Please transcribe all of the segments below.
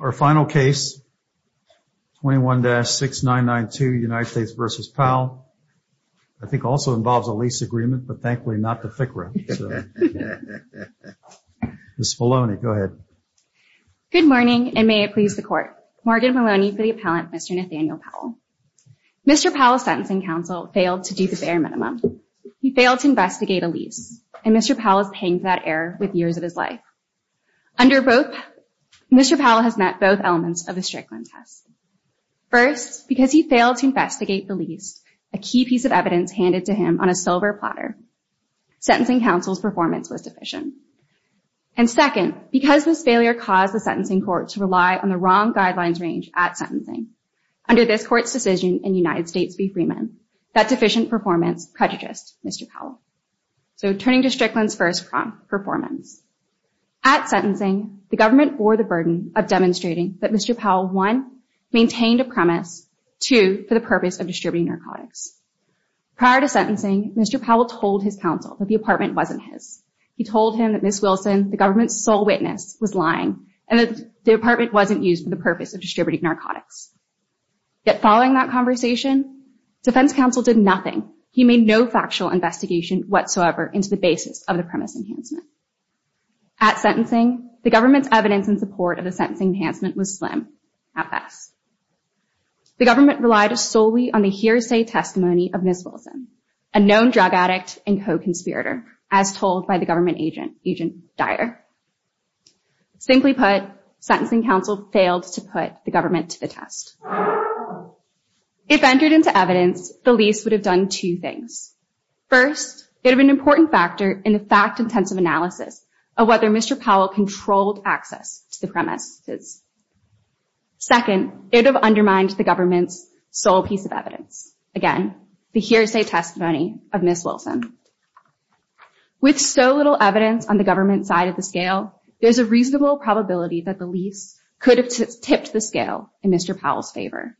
Our final case, 21-6992 United States v. Powell, I think also involves a lease agreement, but thankfully not the FICRA. Ms. Maloney, go ahead. Good morning, and may it please the Court. Morgan Maloney for the appellant, Mr. Nathaniel Powell. Mr. Powell's sentencing counsel failed to do the bare minimum. He failed to investigate a lease, and Mr. Powell is paying for that error with years of his life. Under both, Mr. Powell has met both elements of the Strickland test. First, because he failed to investigate the lease, a key piece of evidence handed to him on a silver platter. Sentencing counsel's performance was deficient. And second, because this failure caused the sentencing court to rely on the wrong guidelines range at sentencing, under this court's decision in United States v. Freeman, that deficient performance prejudiced Mr. Powell. So turning to Strickland's first performance. At sentencing, the government bore the burden of demonstrating that Mr. Powell, one, maintained a premise, two, for the purpose of distributing narcotics. Prior to sentencing, Mr. Powell told his counsel that the apartment wasn't his. He told him that Ms. Wilson, the government's sole witness, was lying, and that the apartment wasn't used for the purpose of distributing narcotics. Yet following that conversation, defense counsel did nothing. He made no factual investigation whatsoever into the basis of the premise enhancement. At sentencing, the government's evidence in support of the sentencing enhancement was slim, at best. The government relied solely on the hearsay testimony of Ms. Wilson, a known drug addict and co-conspirator, as told by the government agent, Agent Dyer. Simply put, sentencing counsel failed to put the government to the test. If entered into evidence, the lease would have done two things. First, it would have been an important factor in the fact-intensive analysis of whether Mr. Powell controlled access to the premises. Second, it would have undermined the government's sole piece of evidence. Again, the hearsay testimony of Ms. Wilson. With so little evidence on the government side of the scale, there's a reasonable probability that the lease could have tipped the scale in Mr. Powell's favor.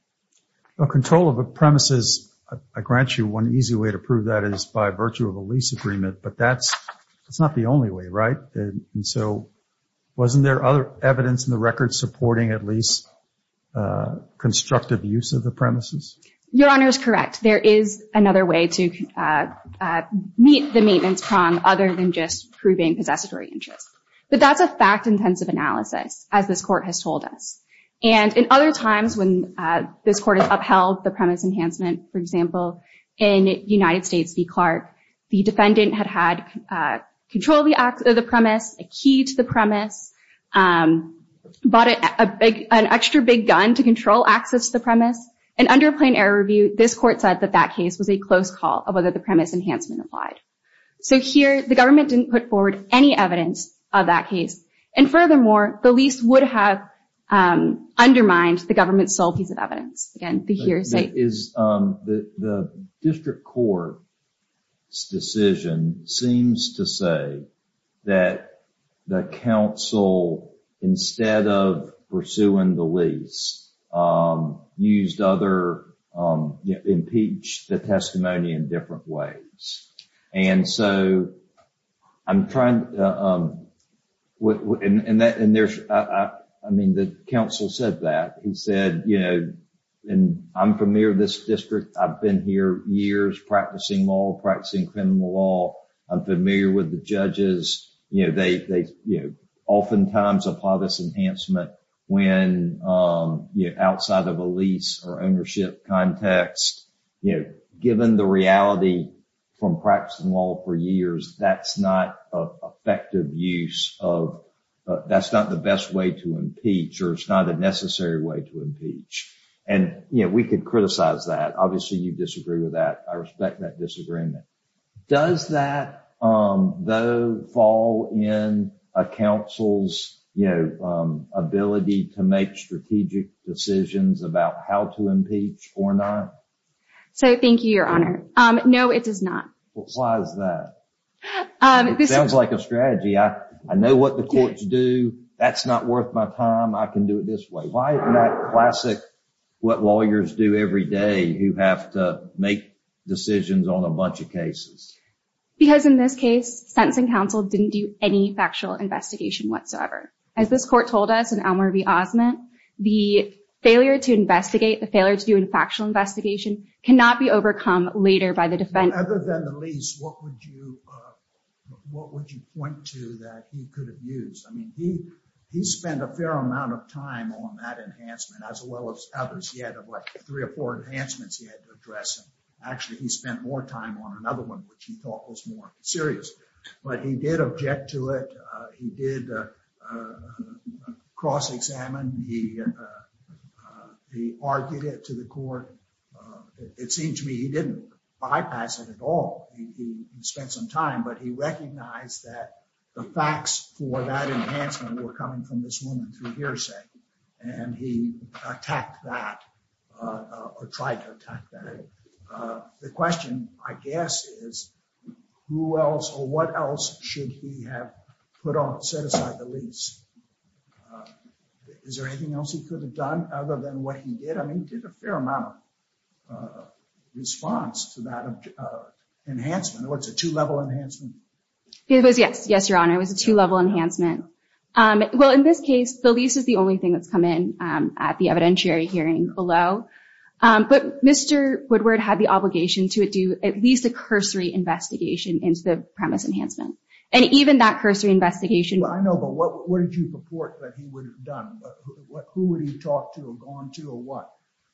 Control of the premises, I grant you one easy way to prove that is by virtue of a lease agreement, but that's not the only way, right? And so, wasn't there other evidence in the record supporting at least constructive use of the premises? Your Honor is correct. There is another way to meet the maintenance prong other than just proving possessory interest. But that's a fact-intensive analysis, as this Court has told us. And in other times when this Court has upheld the premise enhancement, for example, in United States v. Clark, the defendant had had control of the premise, a key to the premise, bought an extra big gun to control access to the premise. And under a plain error review, this Court said that that case was a close call of whether the premise enhancement applied. So here, the government didn't put forward any evidence of that case. And furthermore, the lease would have undermined the government's sole piece of evidence. The district court's decision seems to say that the counsel, instead of pursuing the lease, used other—impeached the testimony in different ways. And so, I'm trying— And there's—I mean, the counsel said that. He said, you know, I'm familiar with this district. I've been here years practicing law, practicing criminal law. I'm familiar with the judges. You know, they oftentimes apply this enhancement when outside of a lease or ownership context. You know, given the reality from practicing law for years, that's not an effective use of— that's not the best way to impeach or it's not a necessary way to impeach. And, you know, we could criticize that. Obviously, you disagree with that. I respect that disagreement. Does that, though, fall in a counsel's, you know, ability to make strategic decisions about how to impeach or not? So, thank you, Your Honor. No, it does not. Why is that? It sounds like a strategy. I know what the courts do. That's not worth my time. I can do it this way. Why isn't that classic what lawyers do every day, who have to make decisions on a bunch of cases? Because in this case, sentencing counsel didn't do any factual investigation whatsoever. As this court told us in Elmer v. Osment, the failure to investigate, the failure to do a factual investigation, cannot be overcome later by the defense. Other than the lease, what would you point to that he could have used? I mean, he spent a fair amount of time on that enhancement, as well as others. He had like three or four enhancements he had to address. Actually, he spent more time on another one, which he thought was more serious. But he did object to it. He did cross-examine. He argued it to the court. It seems to me he didn't bypass it at all. He spent some time, but he recognized that the facts for that enhancement were coming from this woman through hearsay. And he attacked that or tried to attack that. The question, I guess, is who else or what else should he have put on, set aside the lease? Is there anything else he could have done other than what he did? I mean, he did a fair amount of response to that enhancement. It was a two-level enhancement? It was, yes. Yes, Your Honor, it was a two-level enhancement. Well, in this case, the lease is the only thing that's come in at the evidentiary hearing below. But Mr. Woodward had the obligation to do at least a cursory investigation into the premise enhancement. And even that cursory investigation— I know, but what did you report that he would have done? Who would he have talked to or gone to or what?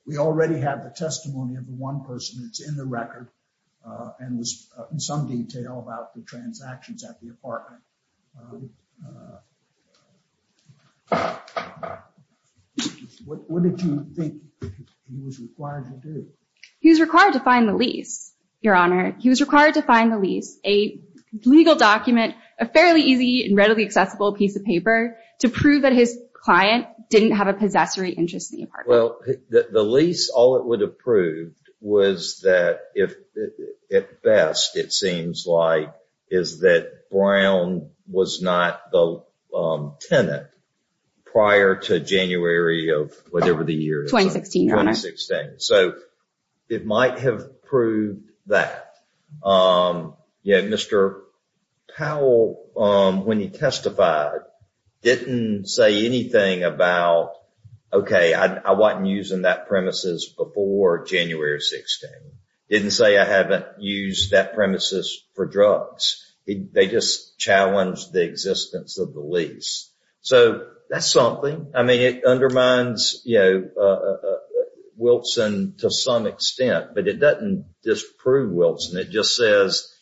We already have the testimony of the one person that's in the record and was in some detail about the transactions at the apartment. What did you think he was required to do? He was required to find the lease, Your Honor. He was required to find the lease, a legal document, a fairly easy and readily accessible piece of paper, to prove that his client didn't have a possessory interest in the apartment. Well, the lease, all it would have proved was that, at best, it seems like, is that Brown was not the tenant prior to January of whatever the year. 2016, Your Honor. So it might have proved that. Yeah, Mr. Powell, when he testified, didn't say anything about, okay, I wasn't using that premises before January of 2016. Didn't say I haven't used that premises for drugs. They just challenged the existence of the lease. So that's something. I mean, it undermines Wilson to some extent, but it doesn't disprove Wilson. It just says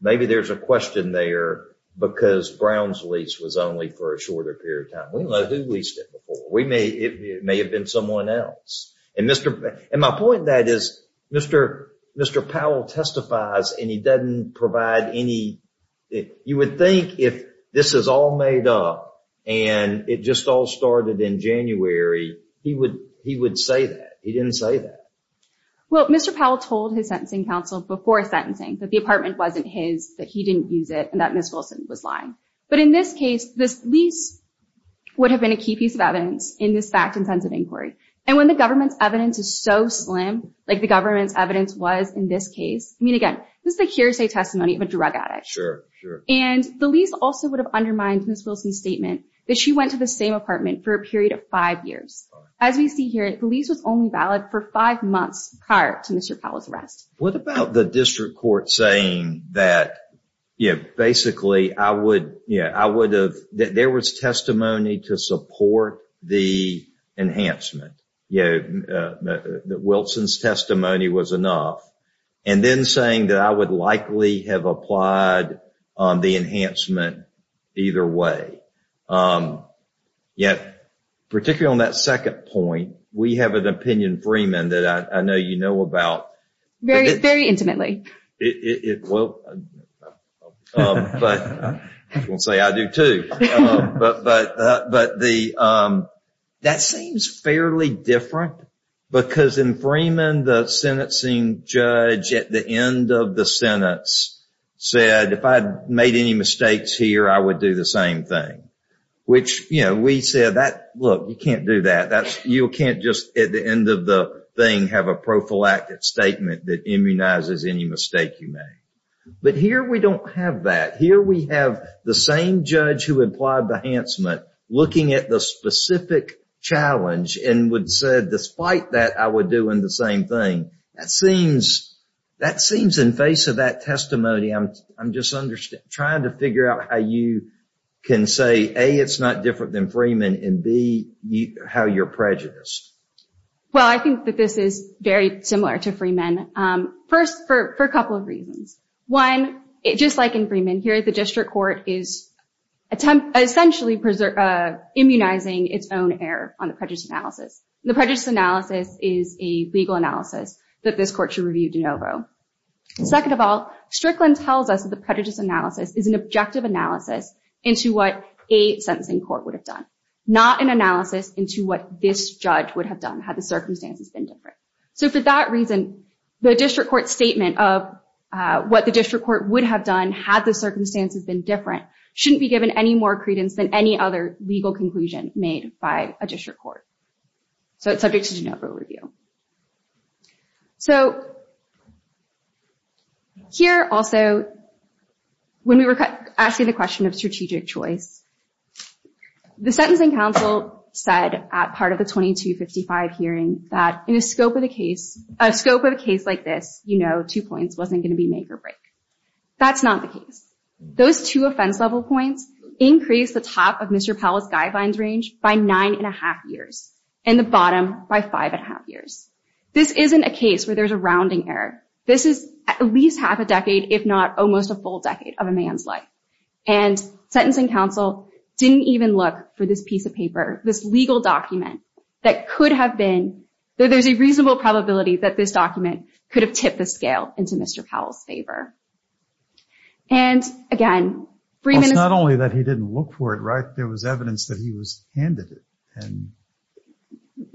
maybe there's a question there because Brown's lease was only for a shorter period of time. We don't know who leased it before. It may have been someone else. And my point in that is Mr. Powell testifies and he doesn't provide any – you would think if this is all made up and it just all started in January, he would say that. He didn't say that. Well, Mr. Powell told his sentencing counsel before sentencing that the apartment wasn't his, that he didn't use it, and that Ms. Wilson was lying. But in this case, this lease would have been a key piece of evidence in this fact-intensive inquiry. And when the government's evidence is so slim, like the government's evidence was in this case, I mean, again, this is a hearsay testimony of a drug addict. Sure, sure. And the lease also would have undermined Ms. Wilson's statement that she went to the same apartment for a period of five years. As we see here, the lease was only valid for five months prior to Mr. Powell's arrest. What about the district court saying that basically I would have – that there was testimony to support the enhancement, that Wilson's testimony was enough, and then saying that I would likely have applied the enhancement either way? Yet, particularly on that second point, we have an opinion, Freeman, that I know you know about. Very intimately. Well, I won't say I do, too. But that seems fairly different because in Freeman, the sentencing judge at the end of the sentence said, if I had made any mistakes here, I would do the same thing. Which, you know, we said, look, you can't do that. You can't just, at the end of the thing, have a prophylactic statement that immunizes any mistake you make. But here we don't have that. Here we have the same judge who applied the enhancement looking at the specific challenge and would say, despite that, I would do the same thing. That seems, in face of that testimony, I'm just trying to figure out how you can say, A, it's not different than Freeman, and B, how you're prejudiced. Well, I think that this is very similar to Freeman. First, for a couple of reasons. One, just like in Freeman, here the district court is essentially immunizing its own error on the prejudice analysis. The prejudice analysis is a legal analysis that this court should review de novo. Second of all, Strickland tells us that the prejudice analysis is an objective analysis into what a sentencing court would have done, not an analysis into what this judge would have done had the circumstances been different. So for that reason, the district court statement of what the district court would have done had the circumstances been different shouldn't be given any more credence than any other legal conclusion made by a district court. So it's subject to de novo review. So here also, when we were asking the question of strategic choice, the sentencing counsel said at part of the 2255 hearing that in a scope of the case, a scope of a case like this, you know, two points wasn't going to be make or break. That's not the case. Those two offense level points increase the top of Mr. Powell's guidelines range by nine and a half years and the bottom by five and a half years. This isn't a case where there's a rounding error. This is at least half a decade, if not almost a full decade of a man's life. And sentencing counsel didn't even look for this piece of paper, this legal document that could have been. There's a reasonable probability that this document could have tipped the scale into Mr. Powell's favor. And again, it's not only that he didn't look for it, right? There was evidence that he was handed it. And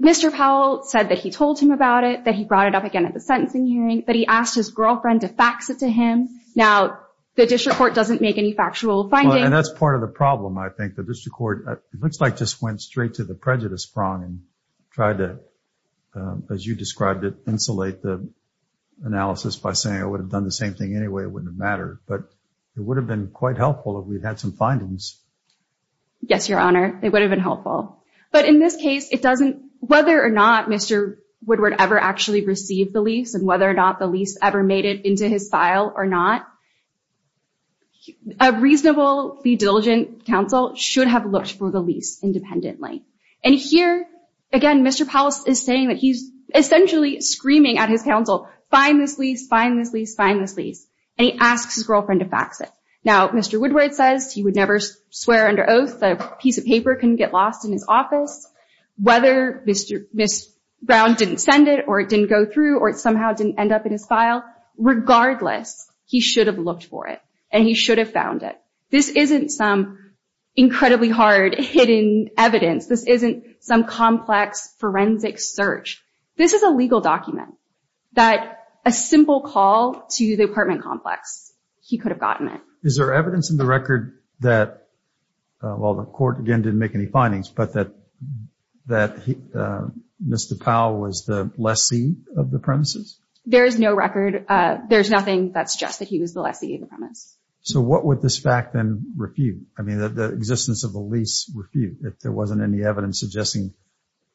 Mr. Powell said that he told him about it, that he brought it up again at the sentencing hearing, that he asked his girlfriend to fax it to him. Now, the district court doesn't make any factual findings. And that's part of the problem. I think the district court looks like just went straight to the prejudice prong and tried to, as you described it, insulate the analysis by saying I would have done the same thing anyway. It wouldn't matter, but it would have been quite helpful if we'd had some findings. Yes, Your Honor, it would have been helpful. But in this case, it doesn't, whether or not Mr. Woodward ever actually received the lease and whether or not the lease ever made it into his file or not, a reasonably diligent counsel should have looked for the lease independently. And here, again, Mr. Powell is saying that he's essentially screaming at his counsel, find this lease, find this lease, find this lease. And he asks his girlfriend to fax it. Now, Mr. Woodward says he would never swear under oath that a piece of paper couldn't get lost in his office. Whether Ms. Brown didn't send it or it didn't go through or it somehow didn't end up in his file, regardless, he should have looked for it and he should have found it. This isn't some incredibly hard hidden evidence. This isn't some complex forensic search. This is a legal document that a simple call to the apartment complex, he could have gotten it. Is there evidence in the record that, well, the court, again, didn't make any findings, but that Mr. Powell was the lessee of the premises? There is no record. There's nothing that suggests that he was the lessee of the premise. So what would this fact then refute? I mean, the existence of the lease refute if there wasn't any evidence suggesting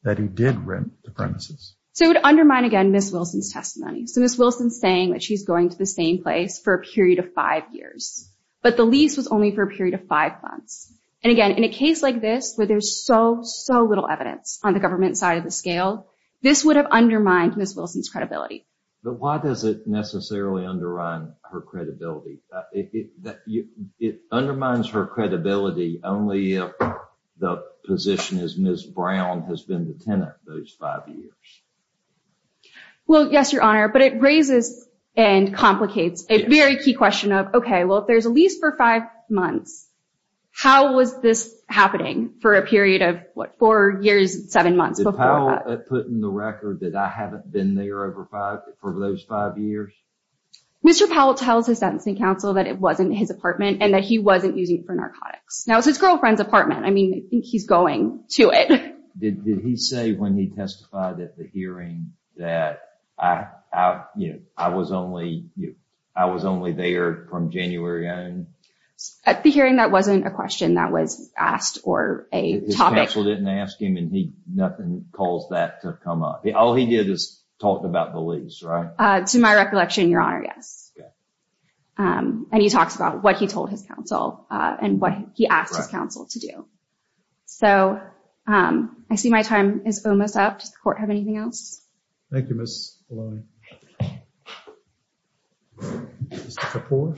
that he did rent the premises. So it would undermine, again, Ms. Wilson's testimony. So Ms. Wilson's saying that she's going to the same place for a period of five years, but the lease was only for a period of five months. And, again, in a case like this where there's so, so little evidence on the government side of the scale, this would have undermined Ms. Wilson's credibility. But why does it necessarily undermine her credibility? It undermines her credibility only if the position is Ms. Brown has been the tenant those five years. Well, yes, Your Honor, but it raises and complicates a very key question of, okay, well, if there's a lease for five months, how was this happening for a period of, what, four years, seven months? Did Powell put in the record that I haven't been there for those five years? Mr. Powell tells his sentencing counsel that it wasn't his apartment and that he wasn't using it for narcotics. Now, it's his girlfriend's apartment. I mean, I think he's going to it. Did he say when he testified at the hearing that I was only there from January on? At the hearing, that wasn't a question that was asked or a topic. His counsel didn't ask him and nothing caused that to come up. All he did is talk about the lease, right? To my recollection, Your Honor, yes. And he talks about what he told his counsel and what he asked his counsel to do. So I see my time is almost up. Does the Court have anything else? Thank you, Ms. Maloney. Mr. Kapoor?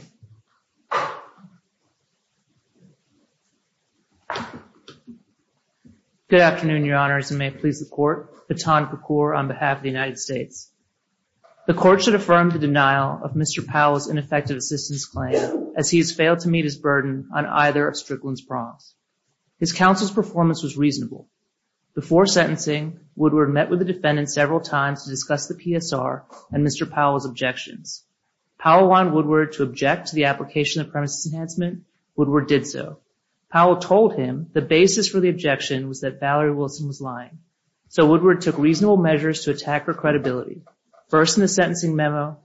Good afternoon, Your Honors, and may it please the Court. Pathan Kapoor on behalf of the United States. The Court should affirm the denial of Mr. Powell's ineffective assistance claim as he has failed to meet his burden on either of Strickland's prongs. His counsel's performance was reasonable. Before sentencing, Woodward met with the defendant several times to discuss the PSR and Mr. Powell's objections. Powell wanted Woodward to object to the application of premises enhancement. Woodward did so. Powell told him the basis for the objection was that Valerie Wilson was lying. So Woodward took reasonable measures to attack her credibility, first in the sentencing memo,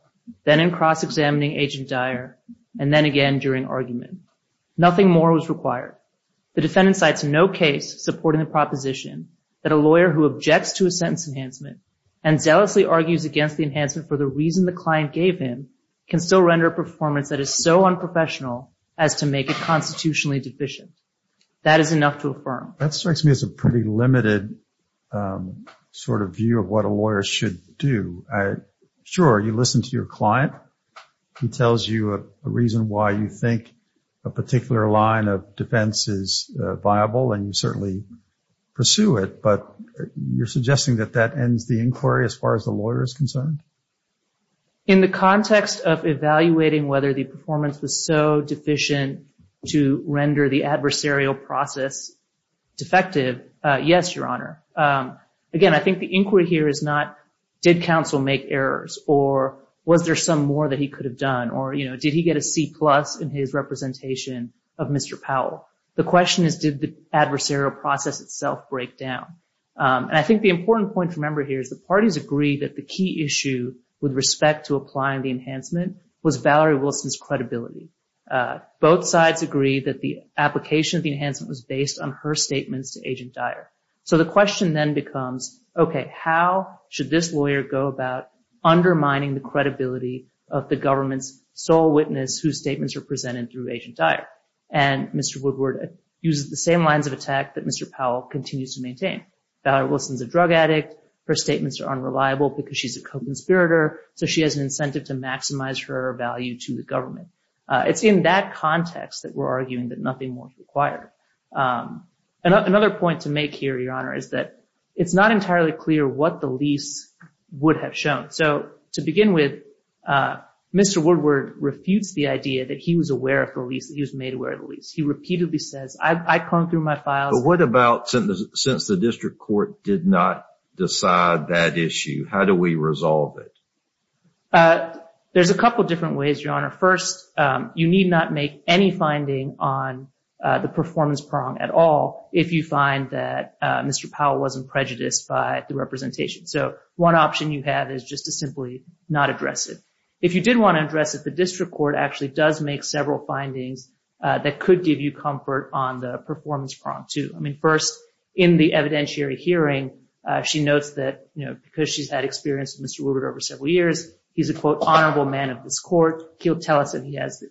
then in cross-examining Agent Dyer, and then again during argument. Nothing more was required. The defendant cites no case supporting the proposition that a lawyer who objects to a sentence enhancement and zealously argues against the enhancement for the reason the client gave him can still render a performance that is so unprofessional as to make it constitutionally deficient. That is enough to affirm. That strikes me as a pretty limited sort of view of what a lawyer should do. Sure, you listen to your client. He tells you a reason why you think a particular line of defense is viable, and you certainly pursue it. But you're suggesting that that ends the inquiry as far as the lawyer is concerned? In the context of evaluating whether the performance was so deficient to render the adversarial process defective, yes, Your Honor. Again, I think the inquiry here is not did counsel make errors or was there some more that he could have done or, you know, did he get a C-plus in his representation of Mr. Powell. The question is did the adversarial process itself break down. And I think the important point to remember here is the parties agree that the key issue with respect to applying the enhancement was Valerie Wilson's credibility. Both sides agree that the application of the enhancement was based on her statements to Agent Dyer. So the question then becomes, okay, how should this lawyer go about undermining the credibility of the government's sole witness whose statements are presented through Agent Dyer? And Mr. Woodward uses the same lines of attack that Mr. Powell continues to maintain. Valerie Wilson's a drug addict. Her statements are unreliable because she's a co-conspirator. So she has an incentive to maximize her value to the government. It's in that context that we're arguing that nothing more is required. Another point to make here, Your Honor, is that it's not entirely clear what the lease would have shown. So to begin with, Mr. Woodward refutes the idea that he was aware of the lease, that he was made aware of the lease. He repeatedly says, I croned through my files. But what about since the district court did not decide that issue? How do we resolve it? There's a couple different ways, Your Honor. First, you need not make any finding on the performance prong at all if you find that Mr. Powell wasn't prejudiced by the representation. So one option you have is just to simply not address it. If you did want to address it, the district court actually does make several findings that could give you comfort on the performance prong too. I mean, first, in the evidentiary hearing, she notes that because she's had experience with Mr. Woodward over several years, he's a, quote, honorable man of this court. He'll tell us that he has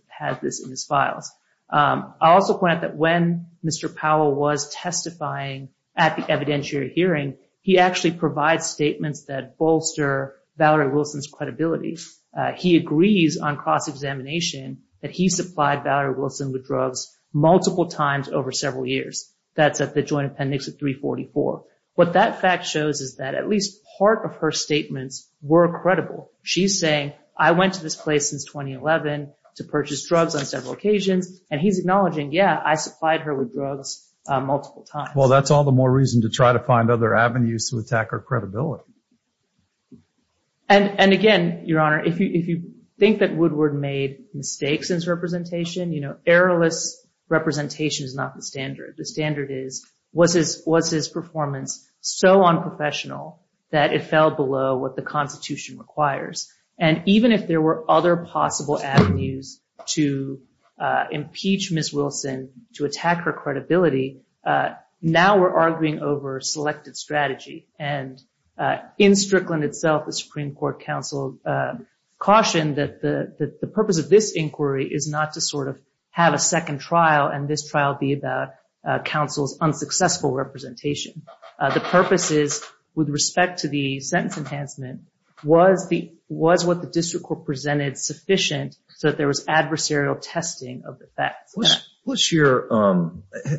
this in his files. I'll also point out that when Mr. Powell was testifying at the evidentiary hearing, he actually provides statements that bolster Valerie Wilson's credibility. He agrees on cross-examination that he supplied Valerie Wilson with drugs multiple times over several years. That's at the Joint Appendix of 344. What that fact shows is that at least part of her statements were credible. She's saying, I went to this place since 2011 to purchase drugs on several occasions. And he's acknowledging, yeah, I supplied her with drugs multiple times. Well, that's all the more reason to try to find other avenues to attack her credibility. And, again, Your Honor, if you think that Woodward made mistakes in his representation, you know, errorless representation is not the standard. The standard is, was his performance so unprofessional that it fell below what the Constitution requires? And even if there were other possible avenues to impeach Ms. Wilson, to attack her credibility, now we're arguing over selected strategy. And in Strickland itself, the Supreme Court counsel cautioned that the purpose of this inquiry is not to sort of have a second trial and this trial be about counsel's unsuccessful representation. The purpose is, with respect to the sentence enhancement, was what the district court presented sufficient so that there was adversarial testing of the facts? What's your,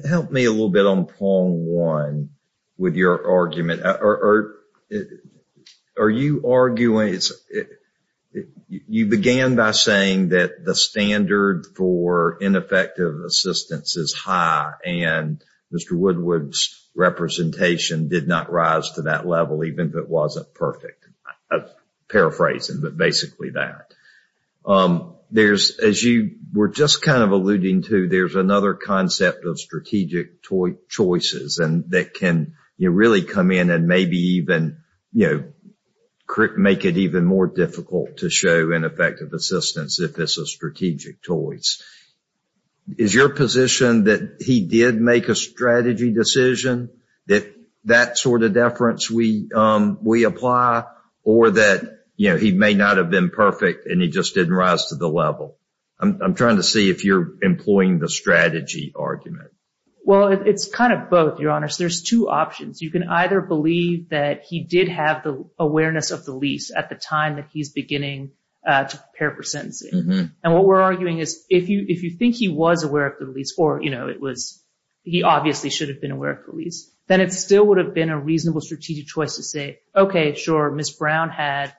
help me a little bit on point one with your argument. Are you arguing, you began by saying that the standard for ineffective assistance is high and Mr. Woodward's representation did not rise to that level, even if it wasn't perfect? Paraphrasing, but basically that. There's, as you were just kind of alluding to, there's another concept of strategic choices and that can really come in and maybe even, you know, make it even more difficult to show ineffective assistance if it's a strategic choice. Is your position that he did make a strategy decision, that that sort of deference we apply, or that, you know, he may not have been perfect and he just didn't rise to the level? I'm trying to see if you're employing the strategy argument. Well, it's kind of both, Your Honors. There's two options. You can either believe that he did have the awareness of the lease at the time that he's beginning to prepare for sentencing. And what we're arguing is if you think he was aware of the lease, or, you know, it was he obviously should have been aware of the lease, then it still would have been a reasonable strategic choice to say, okay, sure, Ms. Brown had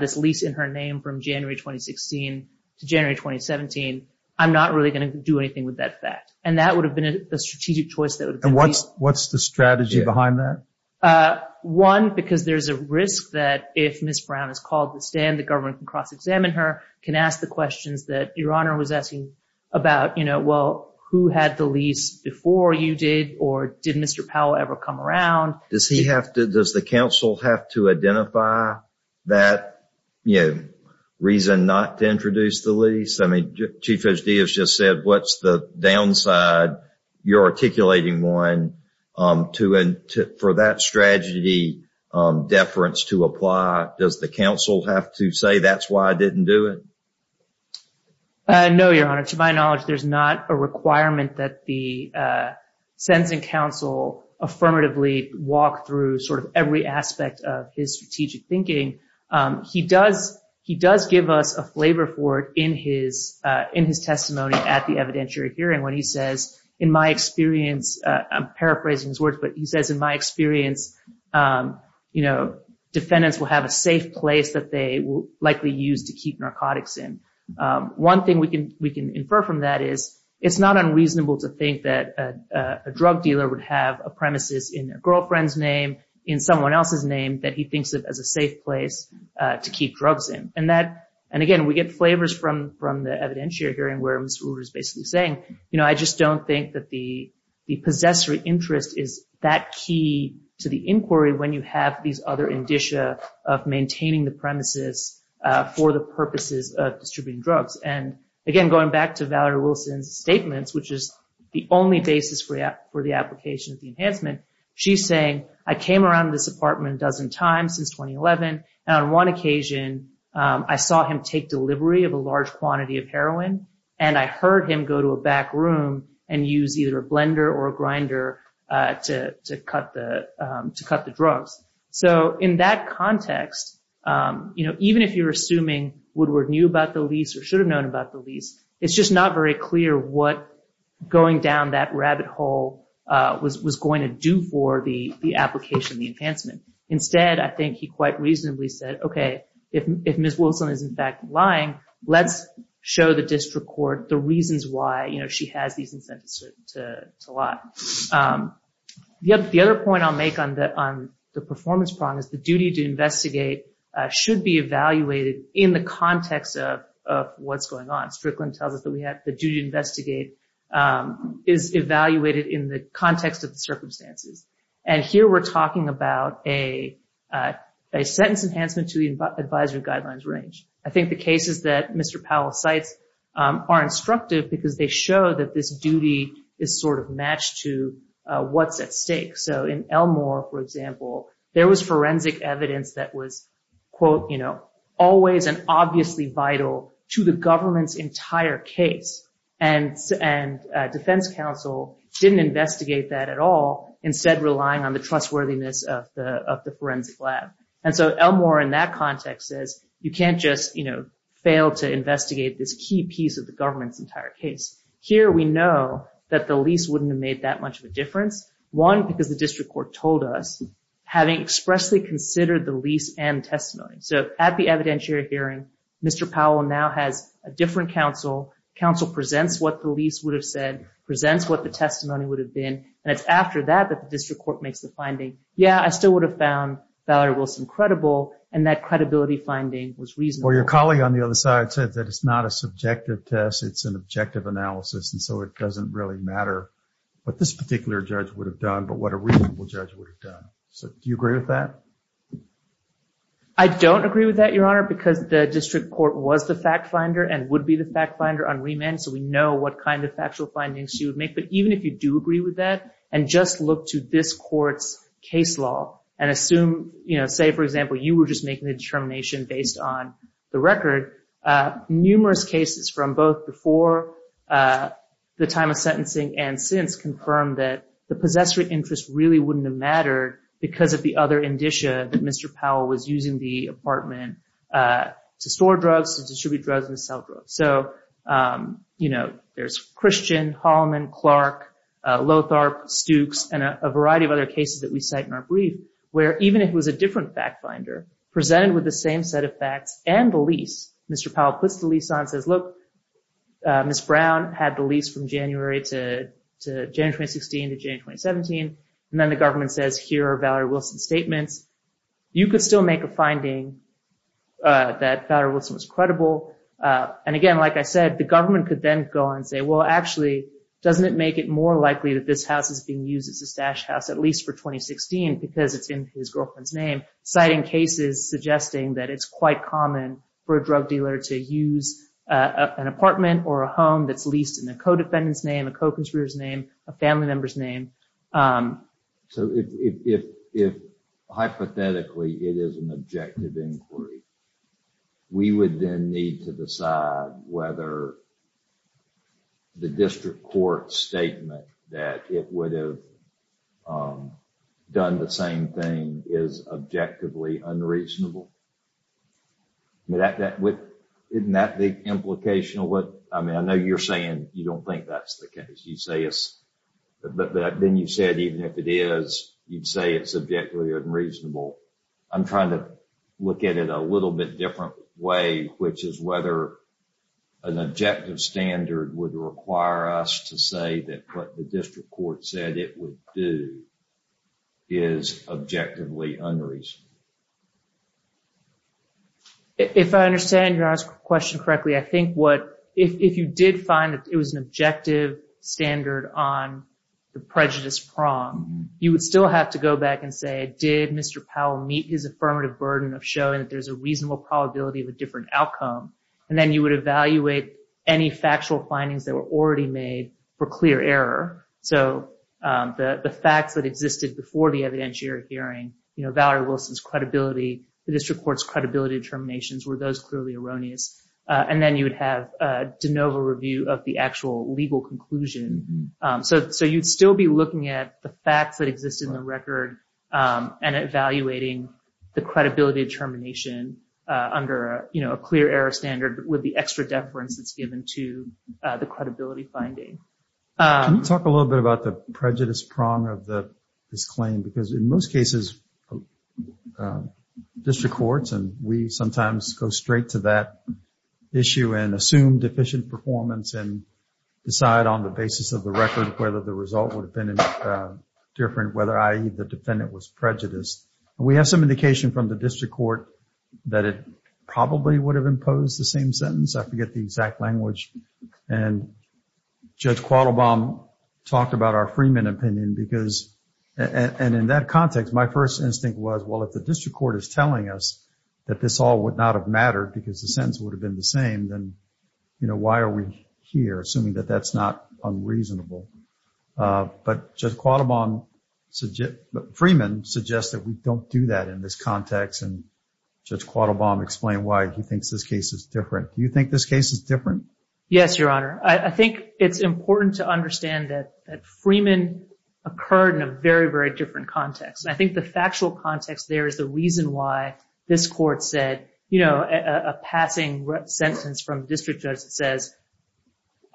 this lease in her name from January 2016 to January 2017. I'm not really going to do anything with that fact. And that would have been a strategic choice. And what's the strategy behind that? One, because there's a risk that if Ms. Brown is called to stand, the government can cross-examine her, can ask the questions that Your Honor was asking about, you know, well, who had the lease before you did or did Mr. Powell ever come around? Does he have to, does the counsel have to identify that, you know, reason not to introduce the lease? I mean, Chief Judge Diaz just said, what's the downside? You're articulating one for that strategy deference to apply. Does the counsel have to say that's why I didn't do it? No, Your Honor, to my knowledge, there's not a requirement that the sentencing counsel affirmatively walk through sort of every aspect of his strategic thinking. He does give us a flavor for it in his testimony at the evidentiary hearing when he says, in my experience, I'm paraphrasing his words, but he says, in my experience, you know, defendants will have a safe place that they will likely use to keep narcotics in. One thing we can infer from that is it's not unreasonable to think that a drug dealer would have a premises in their girlfriend's name, in someone else's name, that he thinks of as a safe place to keep drugs in. And again, we get flavors from the evidentiary hearing where Ms. Rueber is basically saying, you know, I just don't think that the possessory interest is that key to the inquiry when you have these other indicia of maintaining the premises for the purposes of distributing drugs. And again, going back to Valerie Wilson's statements, which is the only basis for the application of the enhancement, she's saying, I came around this apartment a dozen times since 2011. And on one occasion, I saw him take delivery of a large quantity of heroin. And I heard him go to a back room and use either a blender or a grinder to cut the drugs. So in that context, you know, even if you're assuming Woodward knew about the lease or should have known about the lease, it's just not very clear what going down that rabbit hole was going to do for the application of the enhancement. Instead, I think he quite reasonably said, OK, if Ms. Wilson is in fact lying, let's show the district court the reasons why, you know, she has these incentives to lie. The other point I'll make on the performance problem is the duty to investigate should be evaluated in the context of what's going on. Strickland tells us that we have the duty to investigate is evaluated in the context of the circumstances. And here we're talking about a sentence enhancement to the advisory guidelines range. I think the cases that Mr. Powell cites are instructive because they show that this duty is sort of matched to what's at stake. So in Elmore, for example, there was forensic evidence that was, quote, you know, always and obviously vital to the government's entire case. And defense counsel didn't investigate that at all, instead relying on the trustworthiness of the forensic lab. And so Elmore in that context says you can't just, you know, fail to investigate this key piece of the government's entire case. Here we know that the lease wouldn't have made that much of a difference. One, because the district court told us, having expressly considered the lease and testimony. So at the evidentiary hearing, Mr. Powell now has a different counsel. Counsel presents what the lease would have said, presents what the testimony would have been. And it's after that that the district court makes the finding. Yeah, I still would have found Valerie Wilson credible. And that credibility finding was reasonable. Well, your colleague on the other side said that it's not a subjective test. It's an objective analysis. And so it doesn't really matter what this particular judge would have done, but what a reasonable judge would have done. So do you agree with that? I don't agree with that, Your Honor, because the district court was the fact finder and would be the fact finder on remand. So we know what kind of factual findings she would make. But even if you do agree with that and just look to this court's case law and assume, you know, say, for example, you were just making a determination based on the record, numerous cases from both before the time of sentencing and since confirmed that the possessory interest really wouldn't have mattered because of the other indicia that Mr. Powell was using the apartment to store drugs, to distribute drugs, and to sell drugs. So, you know, there's Christian, Holloman, Clark, Lothar, Stukes, and a variety of other cases that we cite in our brief, where even if it was a different fact finder presented with the same set of facts and the lease, Mr. Powell puts the lease on and says, look, Ms. Brown had the lease from January to January 2016 to January 2017. And then the government says, here are Valerie Wilson's statements. You could still make a finding that Valerie Wilson was credible. And again, like I said, the government could then go on and say, well, actually, doesn't it make it more likely that this house is being used as a stash house, at least for 2016, because it's in his girlfriend's name, citing cases suggesting that it's quite common for a drug dealer to use an apartment or a home that's leased in a co-defendant's name, a co-conspirator's name, a family member's name. So if hypothetically it is an objective inquiry, we would then need to decide whether the district court statement that it would have done the same thing is objectively unreasonable. Isn't that the implication of what I mean? I know you're saying you don't think that's the case. But then you said even if it is, you'd say it's objectively unreasonable. I'm trying to look at it a little bit different way, which is whether an objective standard would require us to say that what the district court said it would do is objectively unreasonable. If I understand your question correctly, if you did find that it was an objective standard on the prejudice prong, you would still have to go back and say, did Mr. Powell meet his affirmative burden of showing that there's a reasonable probability of a different outcome? And then you would evaluate any factual findings that were already made for clear error. So the facts that existed before the evidentiary hearing, Valerie Wilson's credibility, the district court's credibility determinations, were those clearly erroneous? And then you would have a de novo review of the actual legal conclusion. So you'd still be looking at the facts that exist in the record and evaluating the credibility determination under a clear error standard with the extra deference that's given to the credibility finding. Can you talk a little bit about the prejudice prong of this claim? Because in most cases, district courts and we sometimes go straight to that issue and assume deficient performance and decide on the basis of the record whether the result would have been different, whether, i.e., the defendant was prejudiced. We have some indication from the district court that it probably would have imposed the same sentence. I forget the exact language. And Judge Quattlebaum talked about our Freeman opinion because, and in that context, my first instinct was, well, if the district court is telling us that this all would not have mattered because the sentence would have been the same, then, you know, why are we here, assuming that that's not unreasonable? But Judge Quattlebaum, Freeman suggests that we don't do that in this context. And Judge Quattlebaum explained why he thinks this case is different. Do you think this case is different? Yes, Your Honor. I think it's important to understand that Freeman occurred in a very, very different context. And I think the factual context there is the reason why this court said, you know, a passing sentence from the district judge that says,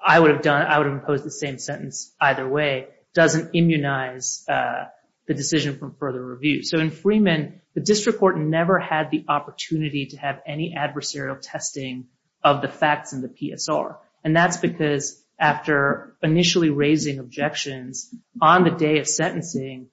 I would have imposed the same sentence either way, doesn't immunize the decision for further review. So in Freeman, the district court never had the opportunity to have any adversarial testing of the facts in the PSR. And that's because after initially raising objections on the day of sentencing,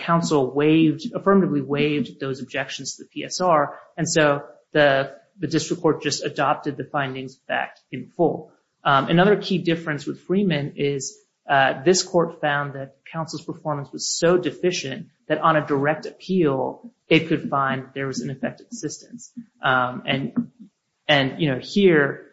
counsel waived, affirmatively waived those objections to the PSR. And so the district court just adopted the findings back in full. Another key difference with Freeman is this court found that counsel's performance was so deficient that on a direct appeal, it could find there was ineffective assistance. And, you know, here,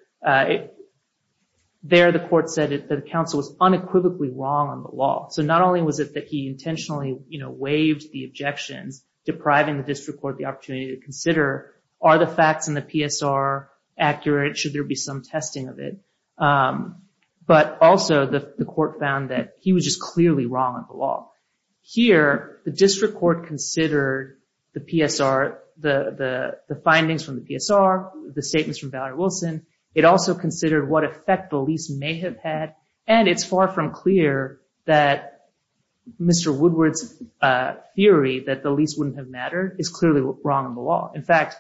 there the court said that counsel was unequivocally wrong on the law. So not only was it that he intentionally, you know, waived the objections, depriving the district court the opportunity to consider, are the facts in the PSR accurate? Should there be some testing of it? But also the court found that he was just clearly wrong on the law. Here, the district court considered the PSR, the findings from the PSR, the statements from Valerie Wilson. It also considered what effect the lease may have had. And it's far from clear that Mr. Woodward's theory that the lease wouldn't have mattered is clearly wrong on the law. In fact,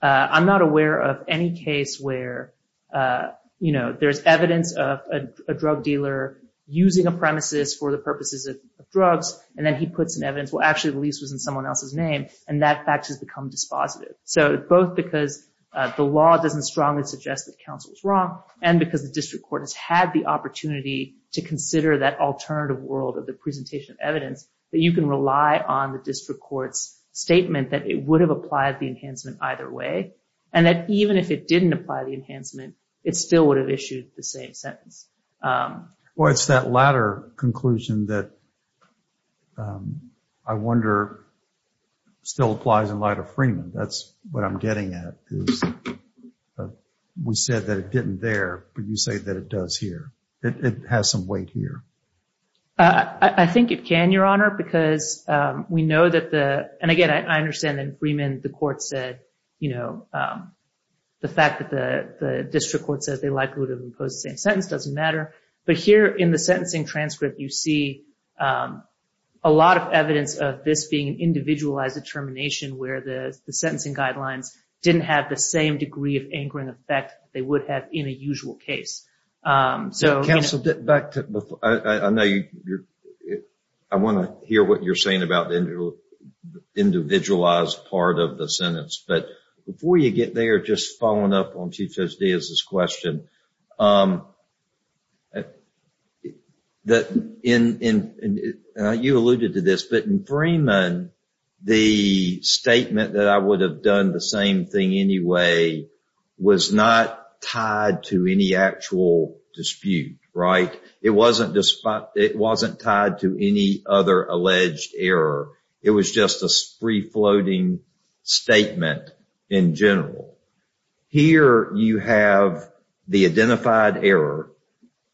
I'm not aware of any case where, you know, there's evidence of a drug dealer using a premises for the purposes of drugs. And then he puts in evidence, well, actually, the lease was in someone else's name. And that fact has become dispositive. So both because the law doesn't strongly suggest that counsel is wrong, and because the district court has had the opportunity to consider that alternative world of the presentation of evidence, that you can rely on the district court's statement that it would have applied the enhancement either way, and that even if it didn't apply the enhancement, it still would have issued the same sentence. Well, it's that latter conclusion that I wonder still applies in light of Freeman. That's what I'm getting at. We said that it didn't there, but you say that it does here. It has some weight here. I think it can, Your Honor, because we know that the, and again, I understand that Freeman, the court said, you know, the fact that the district court says they likely would have imposed the same sentence doesn't matter. But here in the sentencing transcript, you see a lot of evidence of this being an individualized determination, where the sentencing guidelines didn't have the same degree of anchoring effect they would have in a usual case. Counsel, back to, I know you're, I want to hear what you're saying about the individualized part of the sentence. But before you get there, just following up on Chief Judge Diaz's question, you alluded to this, but in Freeman, the statement that I would have done the same thing anyway was not tied to any actual dispute, right? It wasn't tied to any other alleged error. It was just a free-floating statement in general. Here you have the identified error,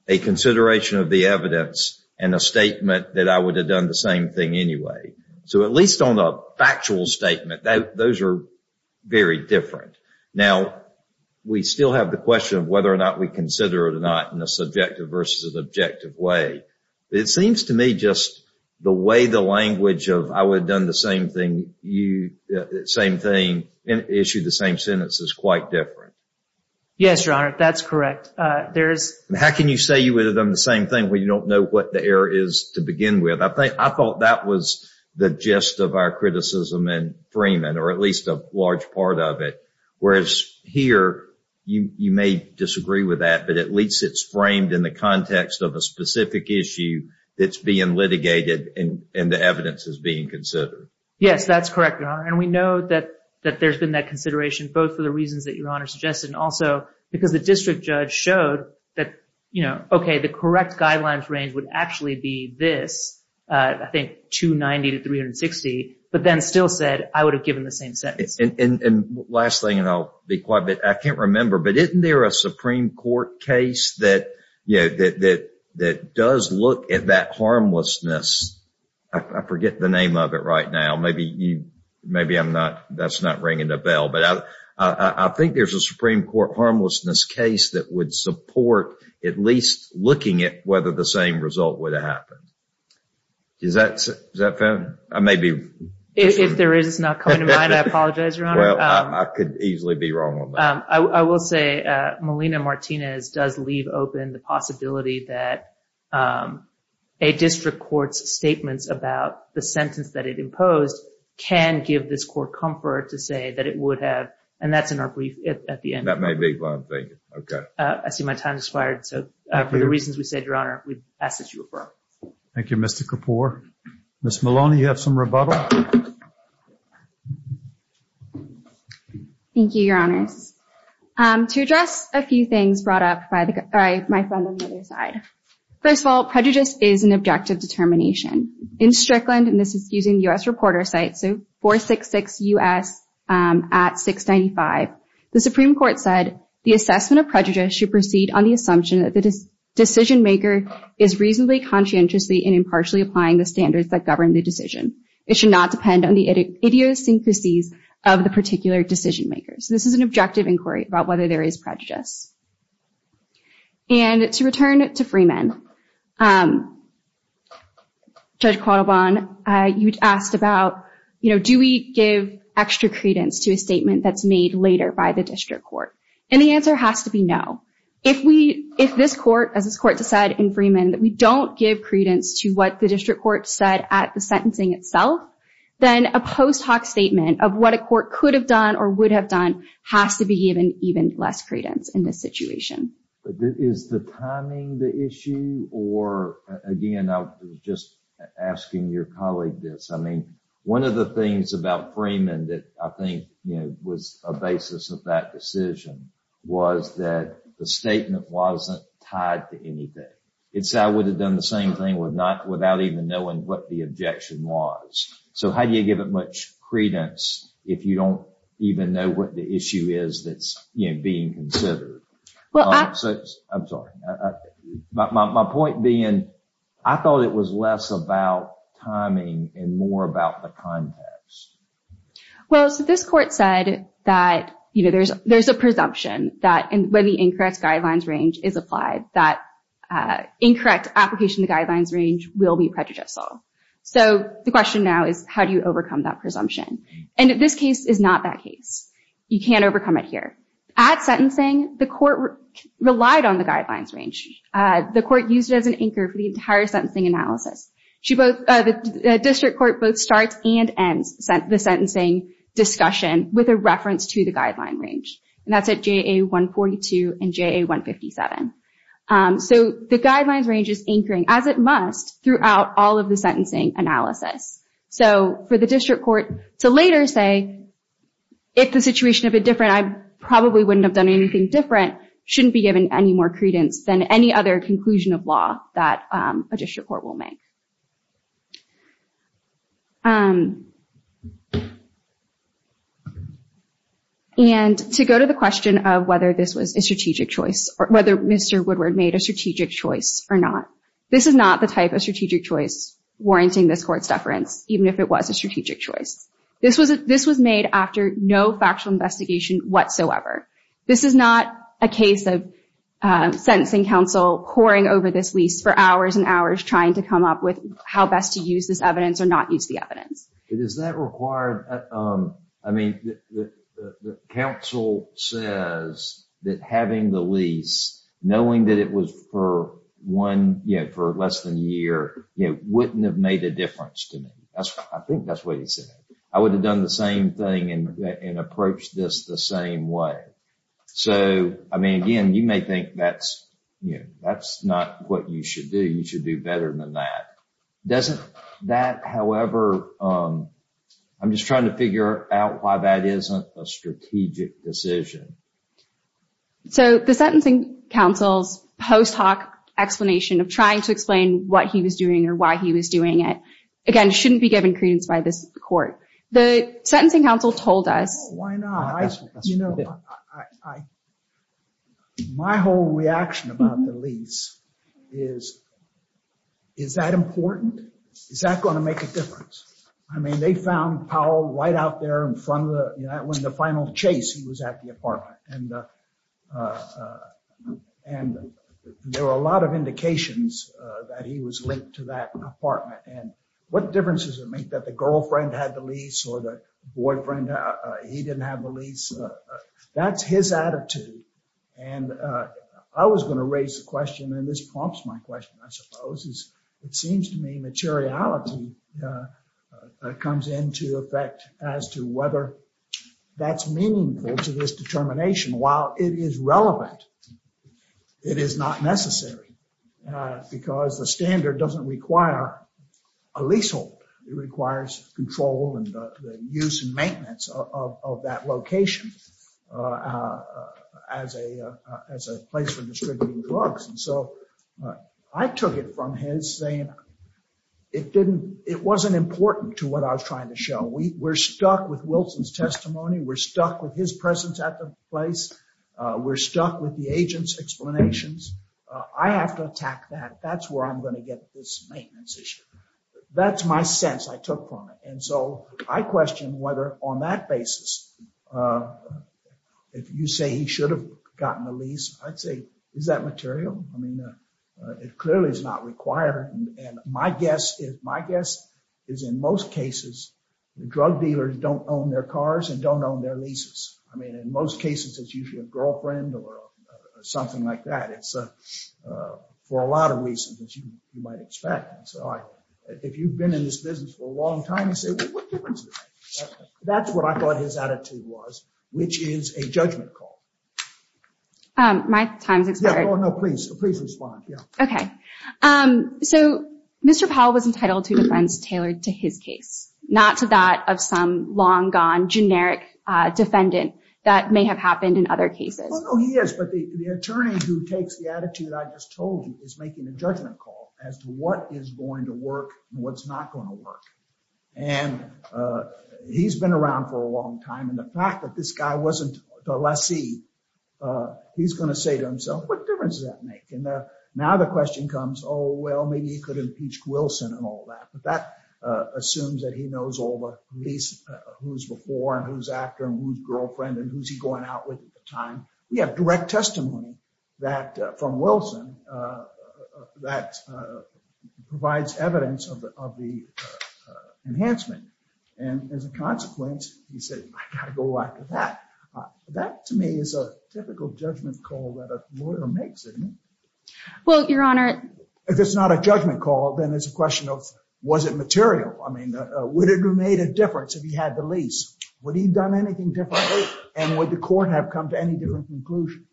a consideration of the evidence, and a statement that I would have done the same thing anyway. So at least on a factual statement, those are very different. Now, we still have the question of whether or not we consider it or not in a subjective versus an objective way. It seems to me just the way the language of I would have done the same thing, you, same thing, issued the same sentence is quite different. Yes, Your Honor, that's correct. How can you say you would have done the same thing when you don't know what the error is to begin with? I thought that was the gist of our criticism in Freeman, or at least a large part of it. Whereas here, you may disagree with that, but at least it's framed in the context of a specific issue that's being litigated and the evidence is being considered. Yes, that's correct, Your Honor. And we know that there's been that consideration, both for the reasons that Your Honor suggested, and also because the district judge showed that, you know, okay, the correct guidelines range would actually be this. I think 290 to 360, but then still said I would have given the same sentence. And last thing, and I'll be quiet, but I can't remember, but isn't there a Supreme Court case that, you know, that does look at that harmlessness? I forget the name of it right now. Maybe that's not ringing a bell, but I think there's a Supreme Court harmlessness case that would support at least looking at whether the same result would have happened. Is that fair? If there is, it's not coming to mind. I apologize, Your Honor. Well, I could easily be wrong on that. I will say Melina Martinez does leave open the possibility that a district court's statements about the sentence that it imposed can give this court comfort to say that it would have, and that's in our brief at the end. That may be what I'm thinking. Okay. I see my time has expired, so for the reasons we said, Your Honor, we ask that you refer. Thank you, Mr. Kapoor. Ms. Maloney, you have some rebuttal? Thank you, Your Honors. To address a few things brought up by my friend on the other side. First of all, prejudice is an objective determination. In Strickland, and this is using U.S. reporter sites, so 466 U.S. at 695, the Supreme Court said the assessment of prejudice should proceed on the assumption that the decision maker is reasonably conscientiously and impartially applying the standards that govern the decision. It should not depend on the idiosyncrasies of the particular decision makers. This is an objective inquiry about whether there is prejudice. And to return to Freeman, Judge Quattlebaugh, you asked about, you know, do we give extra credence to a statement that's made later by the district court? And the answer has to be no. If this court, as this court decided in Freeman, that we don't give credence to what the district court said at the sentencing itself, then a post hoc statement of what a court could have done or would have done has to be given even less credence in this situation. But is the timing the issue? Or, again, I was just asking your colleague this. I mean, one of the things about Freeman that I think was a basis of that decision was that the statement wasn't tied to anything. It said I would have done the same thing without even knowing what the objection was. So how do you give it much credence if you don't even know what the issue is that's being considered? I'm sorry. My point being, I thought it was less about timing and more about the context. Well, so this court said that, you know, there's a presumption that when the incorrect guidelines range is applied, that incorrect application of the guidelines range will be prejudicial. So the question now is how do you overcome that presumption? And this case is not that case. You can't overcome it here. At sentencing, the court relied on the guidelines range. The court used it as an anchor for the entire sentencing analysis. The district court both starts and ends the sentencing discussion with a reference to the guideline range. And that's at JA 142 and JA 157. So the guidelines range is anchoring as it must throughout all of the sentencing analysis. So for the district court to later say, if the situation had been different, I probably wouldn't have done anything different, shouldn't be given any more credence than any other conclusion of law that a district court will make. And to go to the question of whether this was a strategic choice or whether Mr. Woodward made a strategic choice or not, this is not the type of strategic choice warranting this court's deference, even if it was a strategic choice. This was made after no factual investigation whatsoever. This is not a case of sentencing counsel poring over this lease for hours and hours, trying to come up with how best to use this evidence or not use the evidence. Is that required? I mean, the counsel says that having the lease, knowing that it was for one, you know, for less than a year, it wouldn't have made a difference to me. I think that's what he said. I would have done the same thing and approach this the same way. So, I mean, again, you may think that's, you know, that's not what you should do. You should do better than that. Doesn't that, however, I'm just trying to figure out why that isn't a strategic decision. So the sentencing counsel's post hoc explanation of trying to explain what he was doing or why he was doing it, again, shouldn't be given credence by this court. The sentencing counsel told us. Why not? You know, my whole reaction about the lease is, is that important? Is that going to make a difference? I mean, they found Powell right out there in front of the final chase. He was at the apartment and there were a lot of indications that he was linked to that apartment. And what difference does it make that the girlfriend had the lease or the boyfriend? He didn't have the lease. That's his attitude. And I was going to raise the question. And this prompts my question, I suppose, is it seems to me materiality comes into effect as to whether that's meaningful to this determination. While it is relevant, it is not necessary because the standard doesn't require a leasehold. It requires control and use and maintenance of that location as a as a place for distributing drugs. And so I took it from his saying it didn't it wasn't important to what I was trying to show. We were stuck with Wilson's testimony. We're stuck with his presence at the place. We're stuck with the agent's explanations. I have to attack that. That's where I'm going to get this maintenance issue. That's my sense I took from it. And so I question whether on that basis, if you say he should have gotten the lease, I'd say, is that material? I mean, it clearly is not required. And my guess is my guess is in most cases, the drug dealers don't own their cars and don't own their leases. I mean, in most cases, it's usually a girlfriend or something like that. It's for a lot of reasons that you might expect. So if you've been in this business for a long time, you say that's what I thought his attitude was, which is a judgment call. My time's expired. No, please, please respond. OK, so Mr. Powell was entitled to defense tailored to his case, not to that of some long gone generic defendant that may have happened in other cases. Oh, yes. But the attorney who takes the attitude I just told you is making a judgment call as to what is going to work and what's not going to work. And he's been around for a long time. And the fact that this guy wasn't the lessee, he's going to say to himself, what difference does that make? And now the question comes, oh, well, maybe he could impeach Wilson and all that. But that assumes that he knows all the police, who's before and who's after and who's girlfriend and who's he going out with at the time. We have direct testimony that from Wilson that provides evidence of the enhancement. And as a consequence, he said, I got to go back to that. That to me is a typical judgment call that a lawyer makes. Well, Your Honor, if it's not a judgment call, then it's a question of was it material? I mean, would it have made a difference if he had the lease? Would he have done anything differently? And would the court have come to any different conclusion?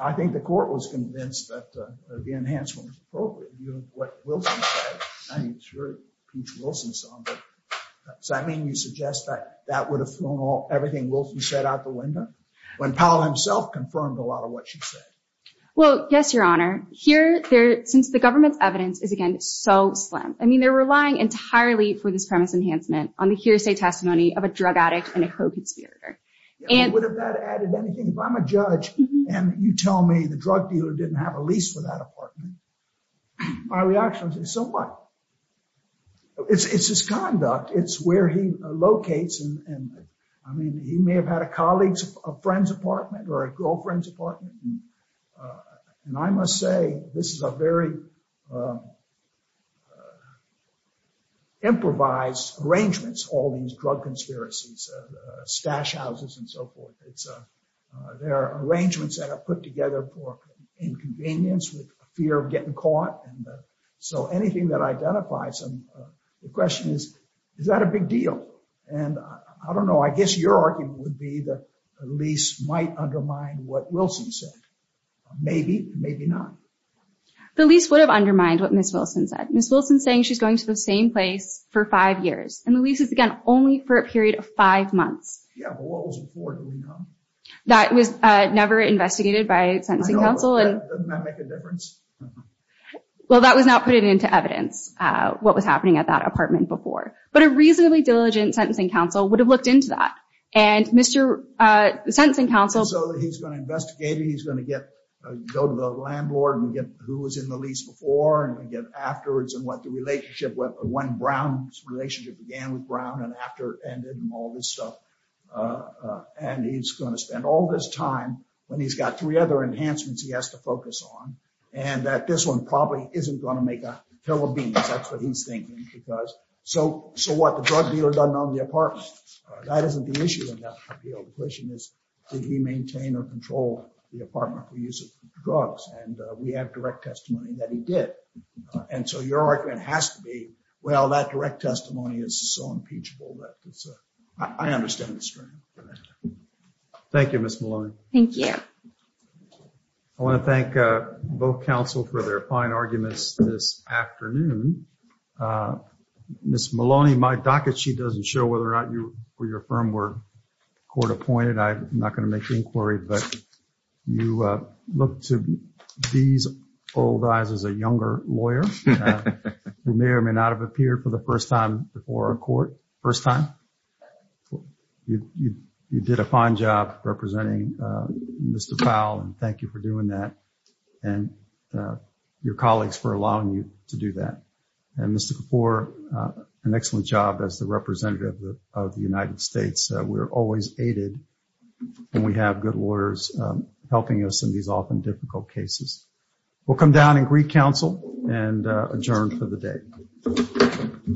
I think the court was convinced that the enhancement was appropriate. What Wilson said, I mean, sure, impeach Wilson. Does that mean you suggest that that would have thrown all everything Wilson said out the window when Powell himself confirmed a lot of what she said? Well, yes, Your Honor. Here, since the government's evidence is, again, so slim. I mean, they're relying entirely for this premise enhancement on the hearsay testimony of a drug addict and a co-conspirator. And would have that added anything if I'm a judge and you tell me the drug dealer didn't have a lease for that apartment? My reaction is so what? It's his conduct. It's where he locates. And I mean, he may have had a colleague's friend's apartment or a girlfriend's apartment. And I must say, this is a very improvised arrangements. All these drug conspiracies, stash houses and so forth. It's their arrangements that are put together for inconvenience with fear of getting caught. And so anything that identifies them, the question is, is that a big deal? And I don't know. I guess your argument would be that the lease might undermine what Wilson said. Maybe, maybe not. The lease would have undermined what Miss Wilson said. Miss Wilson saying she's going to the same place for five years. And the lease is, again, only for a period of five months. Yeah. That was never investigated by a sentencing counsel. And that make a difference. Well, that was not put into evidence what was happening at that apartment before. But a reasonably diligent sentencing counsel would have looked into that. And Mr. Sentencing counsel. So he's going to investigate it. He's going to get go to the landlord and get who was in the lease before and get afterwards. And what the relationship with when Brown's relationship began with Brown and after and all this stuff. And he's going to spend all this time when he's got three other enhancements he has to focus on. And that this one probably isn't going to make that. That's what he's thinking. Because so. So what? The drug dealer doesn't own the apartment. That isn't the issue. The question is, did he maintain or control the apartment for use of drugs? And we have direct testimony that he did. And so your argument has to be, well, that direct testimony is so impeachable that I understand. Thank you, Miss Maloney. Thank you. I want to thank both counsel for their fine arguments this afternoon. Miss Maloney, my docket, she doesn't show whether or not you were your firm were court appointed. I'm not going to make the inquiry, but you look to these old guys as a younger lawyer. We may or may not have appeared for the first time before a court. First time you did a fine job representing Mr. Powell. And thank you for doing that. And your colleagues for allowing you to do that. And this is for an excellent job as the representative of the United States. We're always aided and we have good lawyers helping us in these often difficult cases. We'll come down and greet counsel and adjourn for the day.